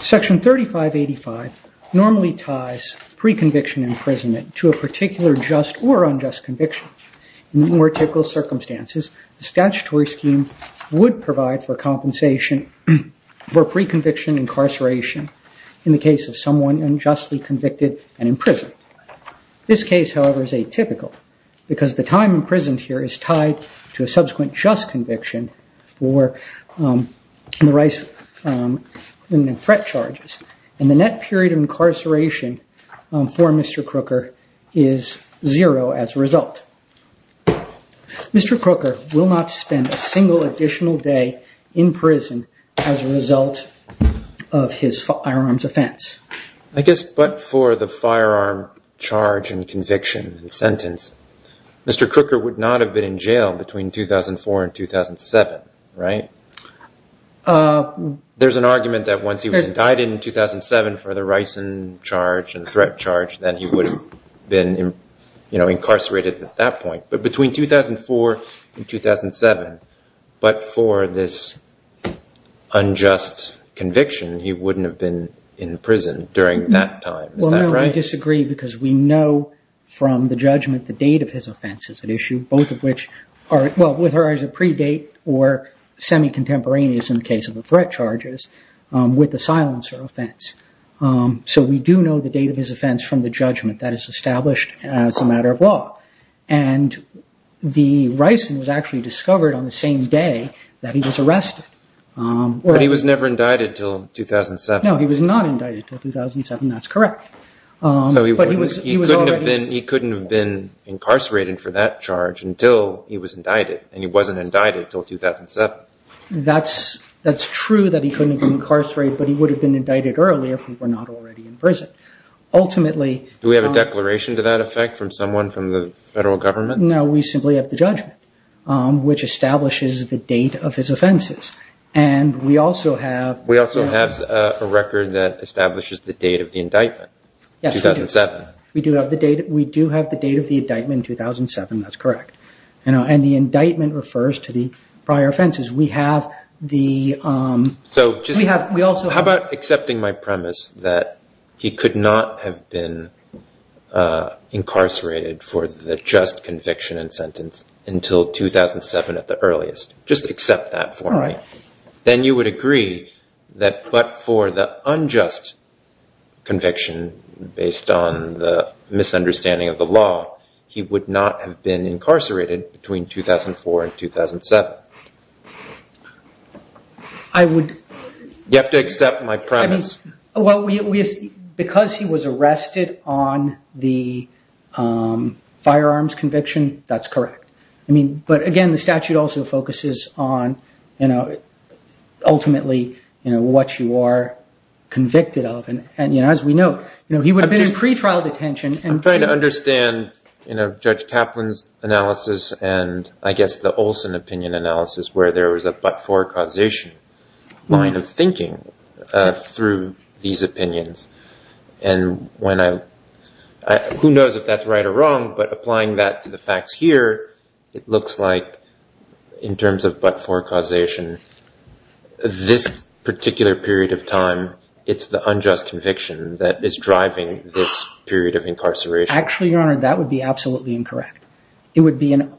Section 3585 normally ties pre-conviction imprisonment to a particular just or unjust conviction. In more typical circumstances, the statutory scheme would provide for compensation for pre-conviction incarceration in the case of someone unjustly convicted and imprisoned. This case, however, is atypical because the time imprisoned here is tied to a subsequent just conviction or threat charges, and the net period of incarceration for Mr. Crooker is zero as a result. Mr. Crooker will not spend a single additional day in prison as a result of his firearms offense. I guess but for the firearm charge and conviction and sentence, Mr. Crooker would not have been in jail between 2004 and 2007, right? There's an argument that once he was indicted in 2007 for the ricin charge and threat charge, then he would have been incarcerated at that point. But between 2004 and 2007, but for this unjust conviction, he wouldn't have been in prison during that time. Is that right? Well, no, I disagree because we know from the judgment the date of his offense is at issue, both of which are, well, whether as a pre-date or semi-contemporaneous in the case of the threat charges, with the silencer offense. So we do know the date of his offense from the judgment that is established as a matter of law. And the ricin was actually discovered on the same day that he was arrested. But he was never indicted until 2007. No, he was not indicted until 2007. That's correct. He couldn't have been incarcerated for that charge until he was indicted, and he wasn't indicted until 2007. That's true that he couldn't have been incarcerated, but he would have been indicted earlier if he were not already in prison. Ultimately- Do we have a declaration to that effect from someone from the federal government? No, we simply have the judgment, which establishes the date of his offenses. And we also have- We also have a record that establishes the date of the indictment, 2007. Yes, we do. We do have the date of the indictment, 2007. That's correct. And the indictment refers to the prior offenses. We have the- How about accepting my premise that he could not have been incarcerated for the just conviction and sentence until 2007 at the earliest? Just accept that for me. Then you would agree that but for the unjust conviction based on the misunderstanding of the law, he would not have been incarcerated between 2004 and 2007. You have to accept my premise. Because he was arrested on the firearms conviction, that's correct. But again, the statute also focuses on ultimately what you are convicted of. As we know, he would have been in pretrial detention. I'm trying to understand Judge Kaplan's analysis and I guess the Olson opinion analysis where there was a but-for causation line of thinking through these opinions. And who knows if that's right or wrong, but applying that to the facts here, it looks like in terms of but-for causation, this particular period of time, it's the unjust conviction that is driving this period of incarceration. Actually, Your Honor, that would be absolutely incorrect. It would be an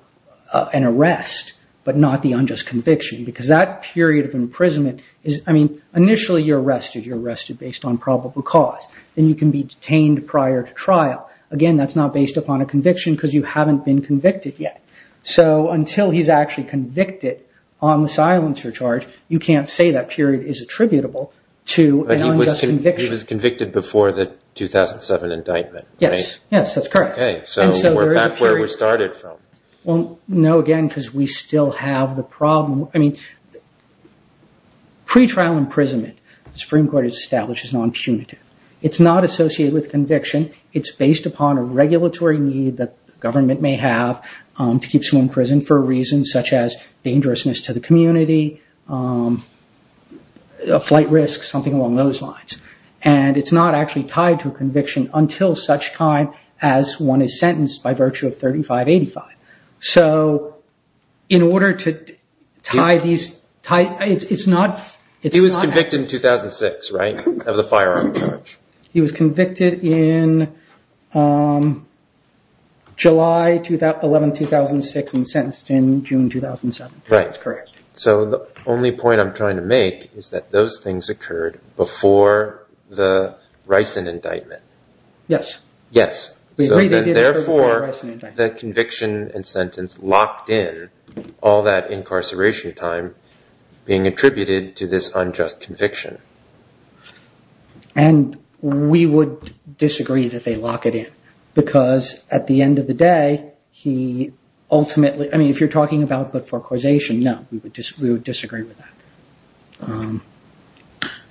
arrest, but not the unjust conviction because that period of imprisonment is- I mean, initially you're arrested. You're arrested based on probable cause. Then you can be detained prior to trial. Again, that's not based upon a conviction because you haven't been convicted yet. So until he's actually convicted on the silencer charge, you can't say that period is attributable to an unjust conviction. He was convicted before the 2007 indictment, right? Yes, that's correct. Okay, so we're back where we started from. No, again, because we still have the problem. Pretrial imprisonment, the Supreme Court has established, is non-punitive. It's not associated with conviction. It's based upon a regulatory need that the government may have to keep someone in prison for a reason such as dangerousness to the community, a flight risk, something along those lines. It's not actually tied to a conviction until such time as one is sentenced by virtue of 3585. So in order to tie these- He was convicted in 2006, right? Of the firearm charge. He was convicted in July 11, 2006 and sentenced in June 2007. Right. That's correct. So the only point I'm trying to make is that those things occurred before the Rison indictment. Yes. Yes. Therefore, the conviction and sentence locked in all that incarceration time being attributed to this unjust conviction. And we would disagree that they lock it in because at the end of the day, he ultimately- I mean, if you're talking about but for causation, no, we would disagree with that.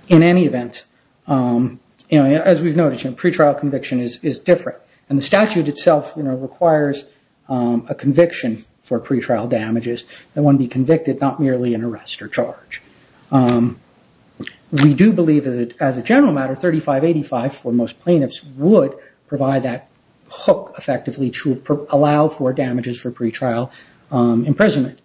In any event, as we've noticed, pretrial conviction is different and the statute itself requires a conviction for pretrial damages that one be convicted, not merely an arrest or charge. We do believe that as a general matter, 3585 for most plaintiffs would provide that hook effectively to allow for damages for pretrial imprisonment.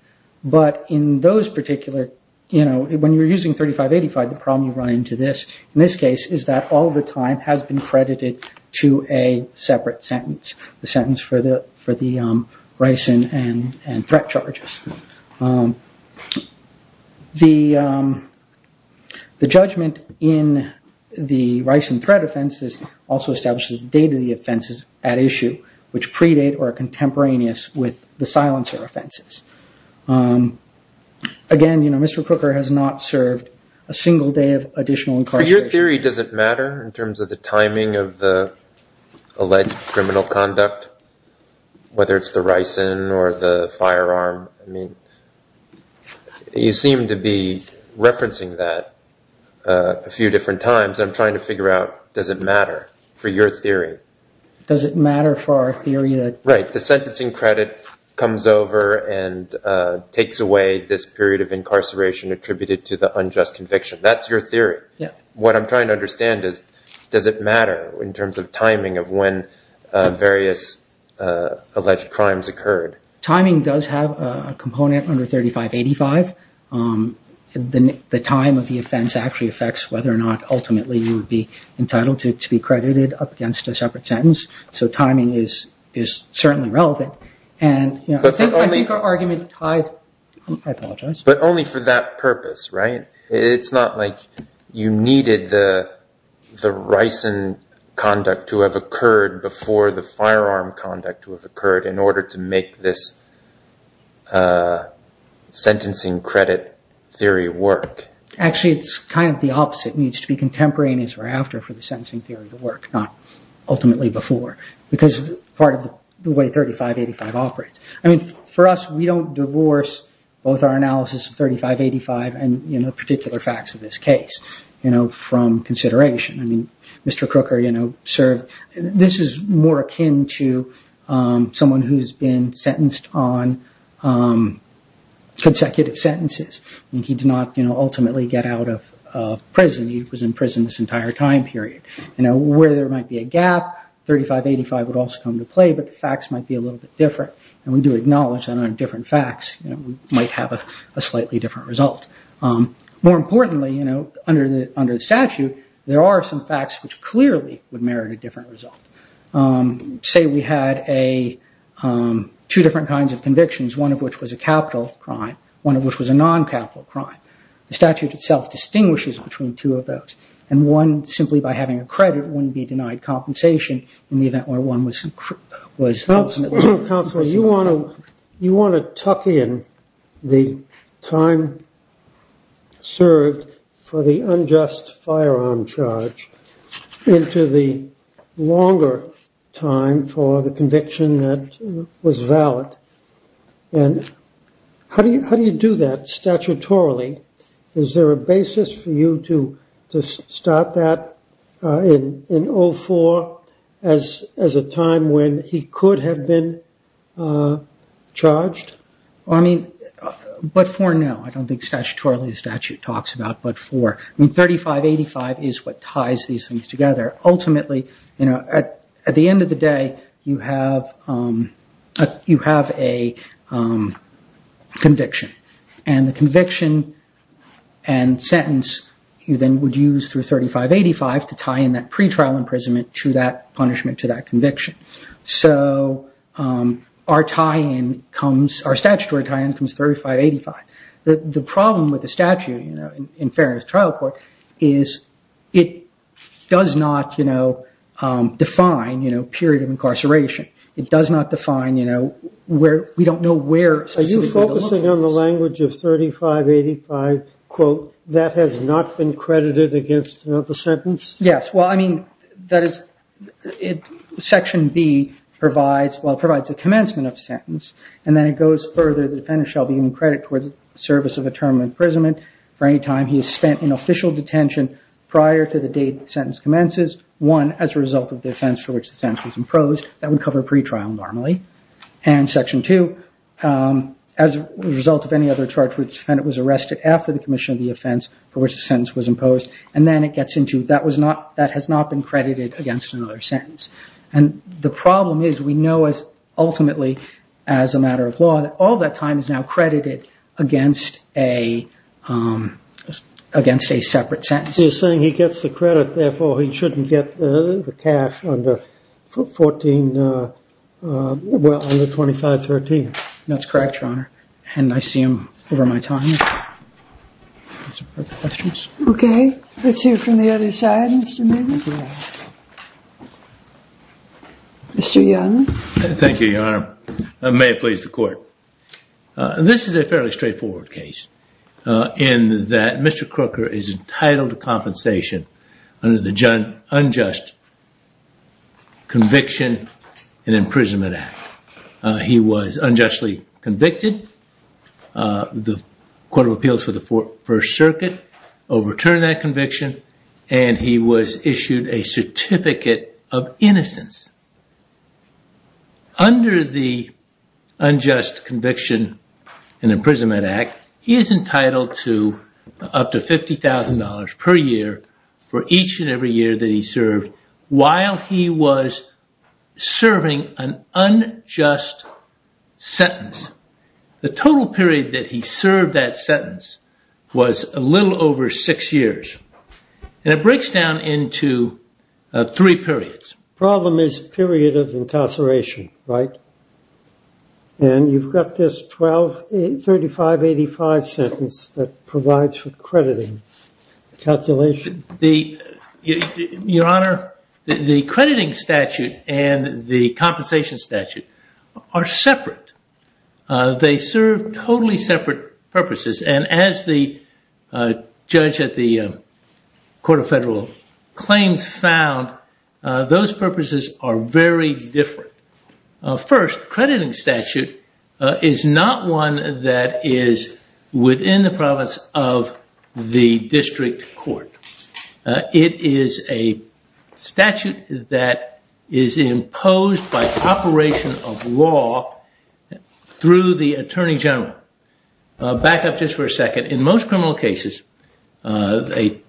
But in those particular- When you're using 3585, the problem you run into in this case is that all the time has been credited to a separate sentence, the sentence for the Rison and threat charges. The judgment in the Rison threat offenses also establishes the date of the offenses at issue, which predate or are contemporaneous with the silencer offenses. Again, Mr. Crooker has not served a single day of additional incarceration. Your theory doesn't matter in terms of the timing of the alleged criminal conduct, whether it's the Rison or the firearm. I mean, you seem to be referencing that a few different times. I'm trying to figure out, does it matter for your theory? Does it matter for our theory that- Right. The sentencing credit comes over and takes away this period of incarceration attributed to the unjust conviction. That's your theory. What I'm trying to understand is, does it matter in terms of the timing of the alleged crimes occurred? Timing does have a component under 3585. The time of the offense actually affects whether or not ultimately you would be entitled to be credited up against a separate sentence. So timing is certainly relevant. I think our argument ties- I apologize. But only for that purpose, right? It's not like you needed the Rison conduct to have occurred before the firearm conduct to have occurred in order to make this sentencing credit theory work. Actually, it's kind of the opposite. It needs to be contemporary and as we're after for the sentencing theory to work, not ultimately before. Because part of the way 3585 operates. I mean, for us, we don't divorce both our analysis of 3585 and particular facts of this case from consideration. I mean, Mr. Crooker served- this is more akin to someone who's been sentenced on consecutive sentences. He did not ultimately get out of prison. He was in prison this entire time period. Where there might be a gap, 3585 would also come to play, but the facts might be a little bit different. And we do acknowledge that on different facts, we might have a slightly different result. More importantly, under the statute, there are some facts which clearly would merit a different result. Say we had two different kinds of convictions, one of which was a capital crime, one of which was a non-capital crime. The statute itself distinguishes between two of those. And one, simply by having a credit, wouldn't be denied compensation in the event where one was- Counsel, you want to tuck in the time served for the unjust firearm charge into the longer time for the conviction that was valid. And how do you do that statutorily? Is there a basis for you to start that in 04 as a time when he could have been charged? But for now, I don't think statutorily the statute talks about but for- 3585 is what ties these things together. Ultimately, at the end of the day, you have a conviction. And the conviction and sentence, you then would use through 3585 to tie in that pretrial imprisonment to that punishment to that conviction. So our statutory tie-in comes 3585. The problem with the statute in Fairness Trial Court is it does not define period of incarceration. It does not define where we don't know where- On the language of 3585, quote, that has not been credited against the sentence? Yes. Well, I mean, that is- Section B provides- well, it provides a commencement of a sentence. And then it goes further. The defendant shall be given credit towards the service of a term of imprisonment for any time he has spent in official detention prior to the date the sentence commences, one, as a result of the offense for which the sentence was imposed. That would cover a pretrial normally. And Section 2, as a result of any other charge for which the defendant was arrested after the commission of the offense for which the sentence was imposed. And then it gets into that has not been credited against another sentence. And the problem is we know ultimately, as a matter of law, that all that time is now credited against a separate sentence. You're saying he gets the credit, therefore, he shouldn't get the cash under 14- well, under 2513. That's correct, Your Honor. And I see him over my time. OK. Let's hear from the other side, Mr. Miller. Mr. Young. Thank you, Your Honor. May it please the court. This is a fairly straightforward case in that Mr. Crooker is entitled to compensation under the unjust Conviction and Imprisonment Act. He was unjustly convicted. The Court of Appeals for the First Circuit overturned that conviction, and he was issued a certificate of innocence. Under the unjust Conviction and Imprisonment Act, he is entitled to up to $50,000 per year for each and every year that he served while he was serving an unjust sentence. The total period that he served that sentence was a little over six years. And it breaks down into three periods. Problem is period of incarceration, right? And you've got this 3585 sentence that provides for crediting calculation. Your Honor, the crediting statute and the compensation statute are separate. They serve totally separate purposes. And as the judge at the Court of Federal Claims found, those purposes are very different. First, crediting statute is not one that is within the province of the district court. It is a statute that is imposed by operation of law through the Attorney General. Back up just for a second. In most criminal cases, an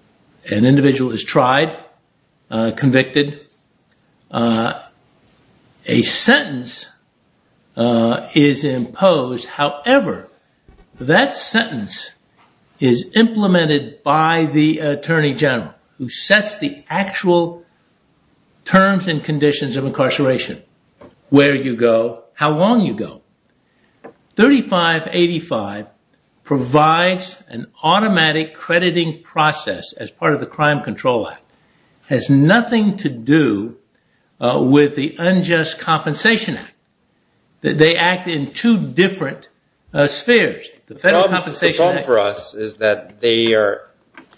individual is tried, convicted. A sentence is imposed. However, that sentence is implemented by the Attorney General, who sets the actual terms and conditions of incarceration. Where you go, how long you go. 3585 provides an automatic crediting process as part of the Crime Control Act. It has nothing to do with the Unjust Compensation Act. They act in two different spheres. The problem for us is that they are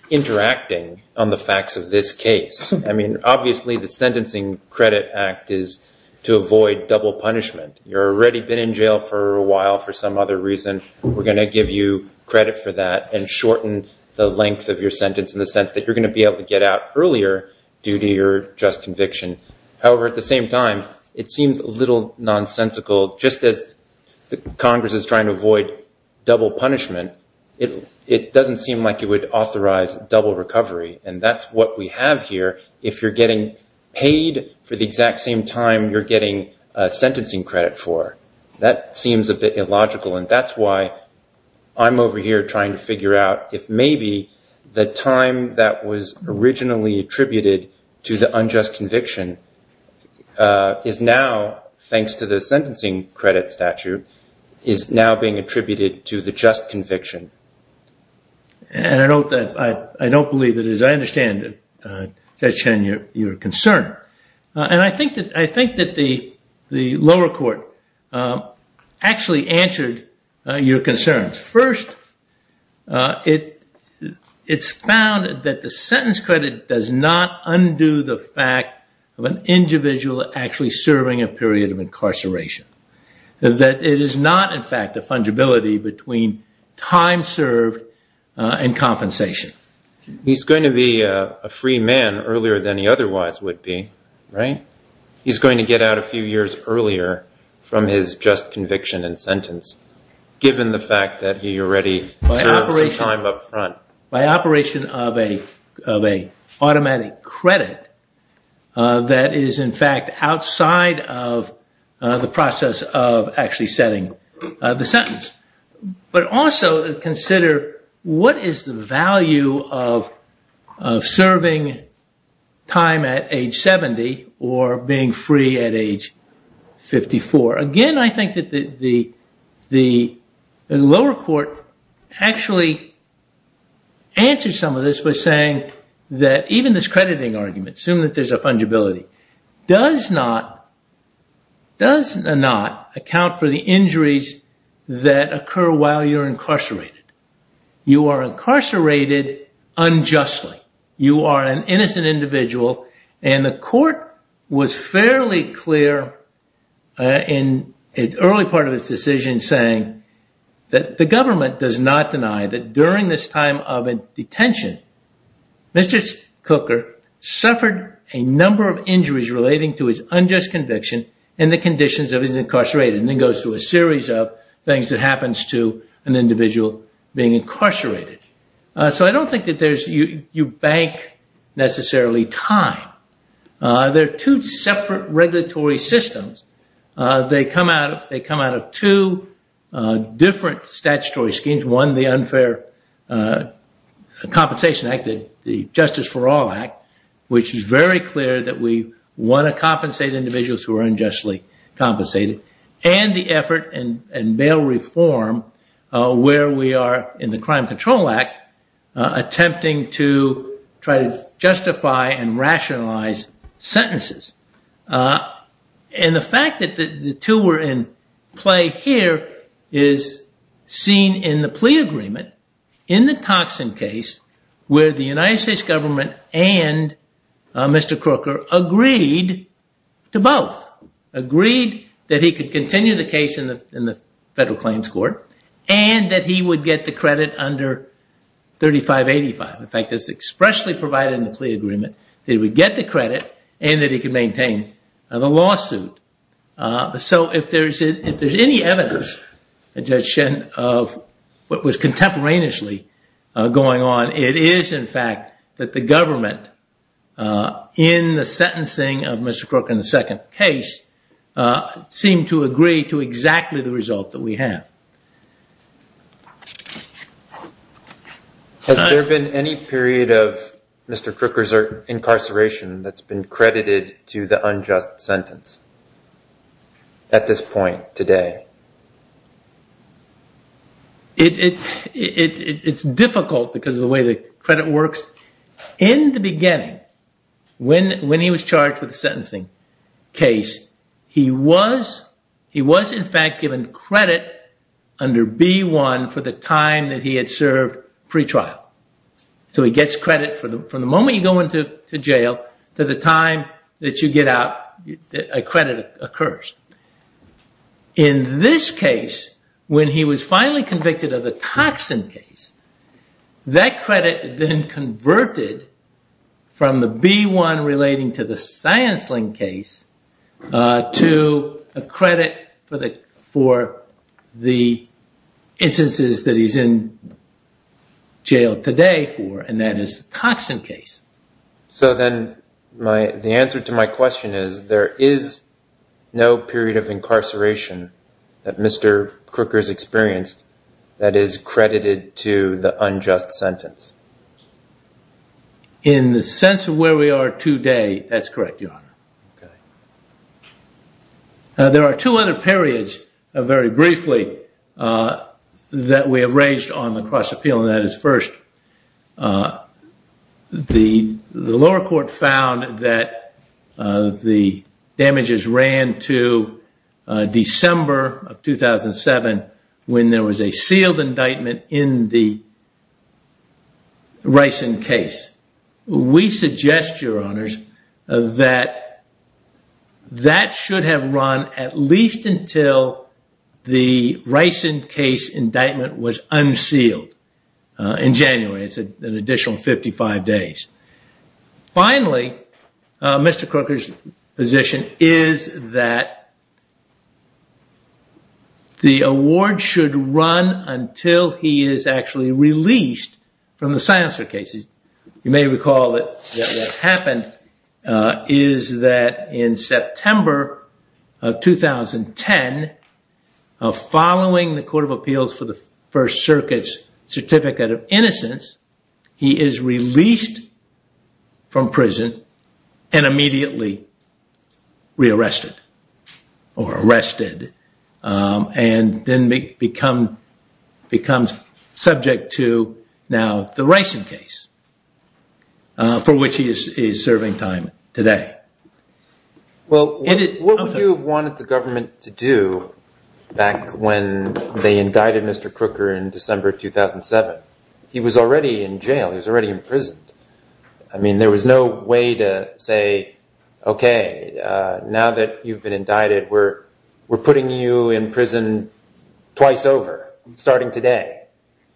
interacting on the facts of this case. I mean, obviously, the Sentencing Credit Act is to avoid double punishment. You've already been in jail for a while for some other reason. We're going to give you credit for that and shorten the length of your sentence in the sense that you're going to be able to get out earlier due to your just conviction. However, at the same time, it seems a little nonsensical. Just as the Congress is trying to avoid double punishment, it doesn't seem like it would if you're getting paid for the exact same time you're getting a sentencing credit for. That seems a bit illogical. That's why I'm over here trying to figure out if maybe the time that was originally attributed to the unjust conviction is now, thanks to the sentencing credit statute, is now being attributed to the just conviction. I don't believe it. As I understand it, Judge Chen, you're concerned. And I think that the lower court actually answered your concerns. First, it's found that the sentence credit does not undo the fact of an individual actually serving a period of incarceration. That it is not, in fact, the fungibility between time served and compensation. He's going to be a free man earlier than he otherwise would be. He's going to get out a few years earlier from his just conviction and sentence, given the fact that he already served some time up front. By operation of an automatic credit that is, in fact, outside of the process of actually setting the sentence. But also consider what is the value of serving time at age 70 or being free at age 54. Again, I think that the lower court actually answered some of this by saying that even this crediting argument, assuming that there's a fungibility, does not account for the injuries that occur while you're incarcerated. You are incarcerated unjustly. You are an innocent individual. And the court was fairly clear in the early part of this decision saying that the government does not deny that during this time of detention, Mr. Cooker suffered a number of injuries relating to his unjust conviction and the conditions of his incarceration. It goes through a series of things that happens to an individual being incarcerated. So I don't think that you bank necessarily time. There are two separate regulatory systems. They come out of two different statutory schemes. One, the unfair compensation act, the justice for all act, which is very clear that we want to compensate individuals who are unjustly compensated, and the effort and bail reform where we are in the Crime Control Act attempting to try to justify and rationalize sentences. And the fact that the two were in play here is seen in the plea agreement in the Toxin case where the United States government and Mr. Cooker agreed to both. Agreed that he could continue the case in the federal claims court and that he would get the credit under 3585. In fact, it's expressly provided in the plea agreement that he would get the credit and that he could maintain the lawsuit. So if there's any evidence, Judge Shen, of what was contemporaneously going on, it is in fact that the government in the sentencing of Mr. Crooker in the second case seemed to agree to exactly the result that we have. Has there been any period of Mr. Crooker's incarceration that's been credited to the unjust sentence at this point today? It's difficult because of the way the credit works. In the beginning, when he was charged with the sentencing case, he was in fact given credit under B1 for the time that he had served pre-trial. So he gets credit from the moment you go into jail to the time that you get out, a credit occurs. In this case, when he was finally convicted of the toxin case, that credit then converted from the B1 relating to the science link case to a credit for the instances that he's in jail today for, and that is the toxin case. So then the answer to my question is there is no period of incarceration that Mr. Crooker's experienced that is credited to the unjust sentence? In the sense of where we are today, that's correct, Your Honor. There are two other periods, very briefly, that we have raised on the cross appeal, and that is first the lower court found that the damages ran to December of 2007 when there was a sealed indictment in the Rison case. We suggest, Your Honors, that that should have run at least until the Rison case indictment was unsealed in January. It's an additional 55 days. Finally, Mr. Crooker's position is that the award should run until he is actually released from the science link case. You may recall that what happened is that in September of 2010, following the Court of Appeals for the First Circuit's Certificate of Innocence, he is released from prison and immediately re-arrested or arrested and then becomes subject to now the Rison case, for which he is serving time today. Well, what would you have wanted the government to do back when they indicted Mr. Crooker in December 2007? He was already in jail. He was already imprisoned. I mean, there was no way to say, okay, now that you've been indicted, we're putting you in prison twice over, starting today.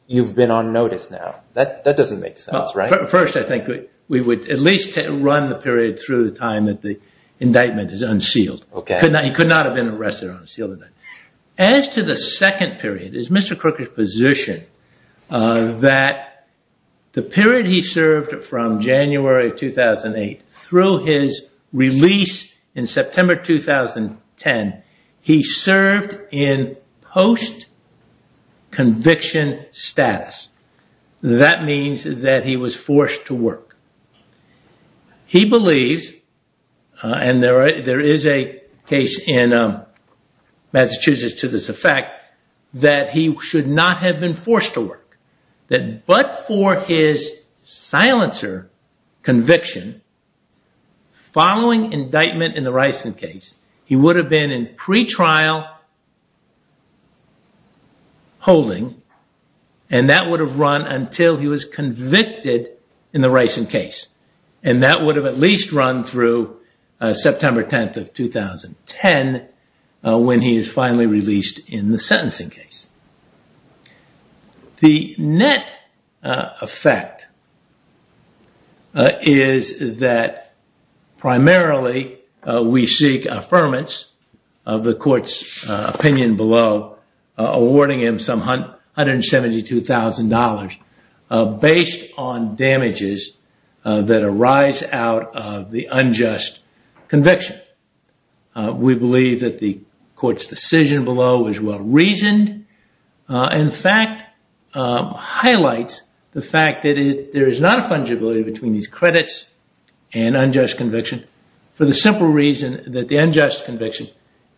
You've been on notice now. That doesn't make sense, right? First, I think we would at least run the period through the time that the indictment is unsealed. He could not have been arrested or unsealed. As to the second period, is Mr. Crooker's position that the period he served from January of 2008 through his release in September 2010, he served in post-conviction status. That means that he was forced to work. He believes, and there is a case in Massachusetts to this effect, that he should not have been forced to work, that but for his silencer conviction, following indictment in the Rison case, he would have been in pretrial holding, and that would have run until he was convicted in the Rison case, and that would have at least run through September 10th of 2010, when he is finally released in the sentencing case. The net effect is that primarily, we seek affirmance of the court's opinion below, awarding him some $172,000 based on damages that arise out of the unjust conviction. We believe that the court's decision below is well-reasoned. In fact, it highlights the fact that there is not a fungibility between these credits and unjust conviction for the simple reason that the unjust conviction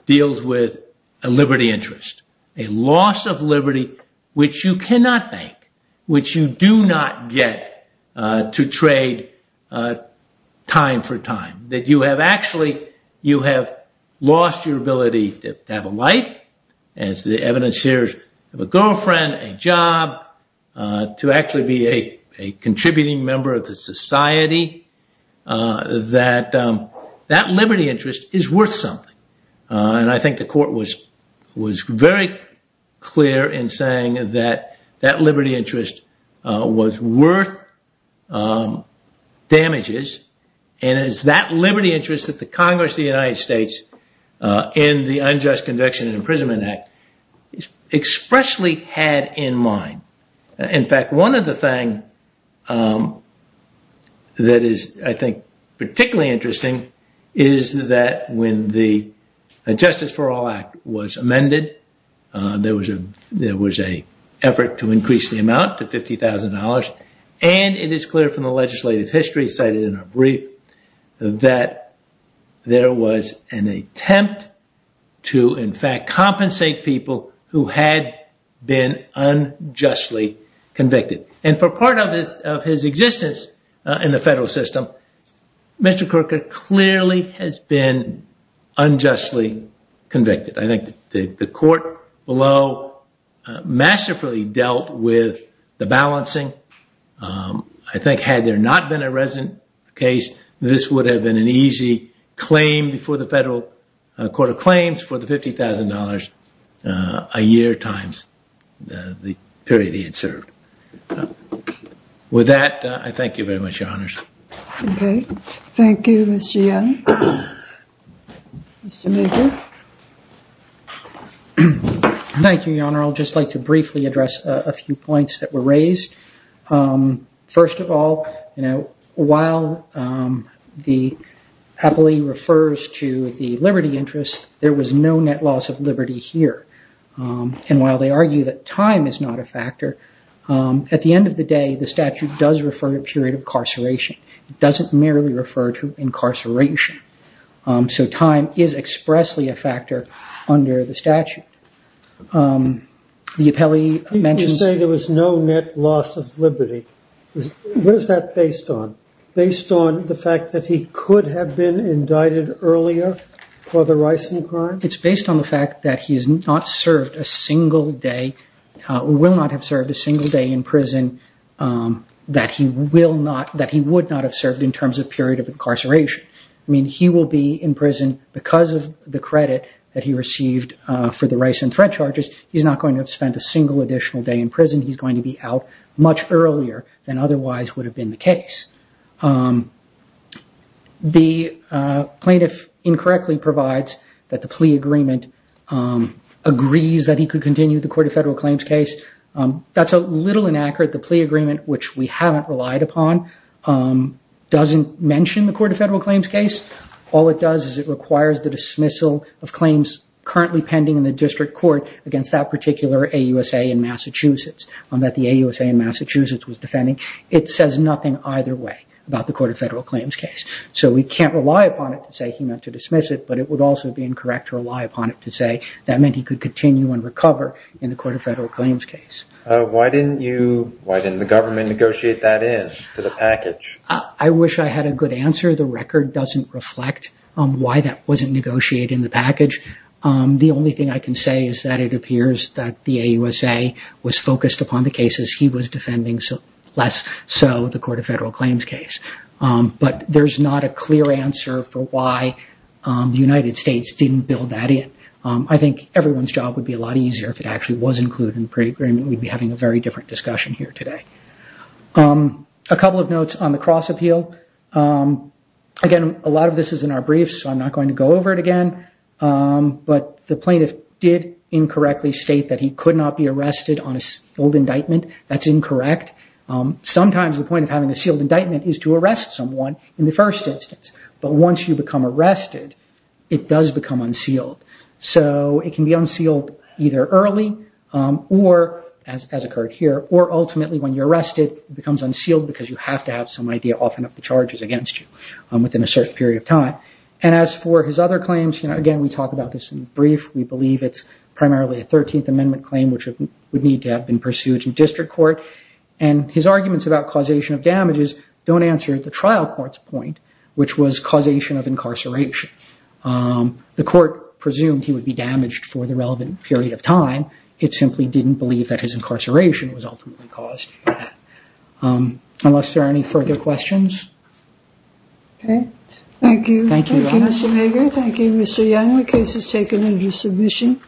deals with a liberty interest, a loss of liberty which you have lost your ability to have a life, as the evidence here of a girlfriend, a job, to actually be a contributing member of the society, that that liberty interest is worth something, and I think the court was very clear in saying that that liberty interest was worth damages, and it's that liberty interest that the Congress of the United States in the Unjust Conviction and Imprisonment Act expressly had in mind. In fact, one of the things that is, I think, particularly interesting is that when the Justice for All Act was amended, there was an effort to increase the amount to $50,000, and it is clear from the legislative history cited in our brief that there was an attempt to, in fact, compensate people who had been unjustly convicted, and for part of his existence in the federal system, Mr. Corker clearly has been unjustly convicted. I think the court below masterfully dealt with the balancing. I think had there not been a resident case, this would have been an easy claim before the federal court of claims for the $50,000 a year times the period he had served. With that, I thank you very much, Your Honors. Okay, thank you, Mr. Young. Mr. Mager. Thank you, Your Honor. I'll just like to briefly address a few points that were raised. First of all, you know, while the appellee refers to the liberty interest, there was no net loss of liberty here. And while they argue that time is not a factor, at the end of the day, the statute does refer to a period of incarceration. It doesn't merely refer to incarceration. So time is expressly a factor under the statute. The appellee mentioned- You say there was no net loss of liberty. What is that based on? Based on the fact that he could have been indicted earlier for the ricin crime? It's based on the fact that he has not served a single day or will not have served a single day in prison that he would not have served in terms of period of incarceration. I mean, he will be in prison because of the credit that he received for the ricin threat charges. He's not going to have spent a single additional day in prison. He's going to be out much earlier than otherwise would have been the case. The plaintiff incorrectly provides that the plea agreement agrees that he could continue the Court of Federal Claims case. That's a little inaccurate. The plea agreement, which we haven't relied upon, doesn't mention the Court of Federal Claims case. All it does is it requires the dismissal of claims currently pending in the district court against that particular AUSA in Massachusetts that the AUSA in Massachusetts was defending. It says nothing either way about the Court of Federal Claims case. So we can't rely upon it to say he meant to dismiss it, but it would also be incorrect to rely upon it to say that meant he could continue and recover in the Court of Federal Claims case. Why didn't the government negotiate that in to the package? I wish I had a good answer. The record doesn't reflect why that wasn't negotiated in the package. The only thing I can say is that it appears that the AUSA was focused upon the cases he was defending, so less so the Court of Federal Claims case. But there's not a clear answer for why the United States didn't build that in. I think everyone's job would be a lot easier if it actually was included in the plea agreement. We'd be having a very different discussion here today. A couple of notes on the cross appeal. Again, a lot of this is in our record again, but the plaintiff did incorrectly state that he could not be arrested on a sealed indictment. That's incorrect. Sometimes the point of having a sealed indictment is to arrest someone in the first instance, but once you become arrested, it does become unsealed. So it can be unsealed either early or, as occurred here, or ultimately when you're arrested, it becomes unsealed because you have to have some idea often of the charges against you within a certain period of time. And as for his other claims, again, we talk about this in the brief. We believe it's primarily a 13th Amendment claim, which would need to have been pursued in district court. And his arguments about causation of damages don't answer the trial court's point, which was causation of incarceration. The court presumed he would be damaged for the relevant period of time. It simply didn't believe that his incarceration was ultimately caused by that. Unless there are any further questions? Okay, thank you. Thank you, Mr. Yeung. The case is taken into submission.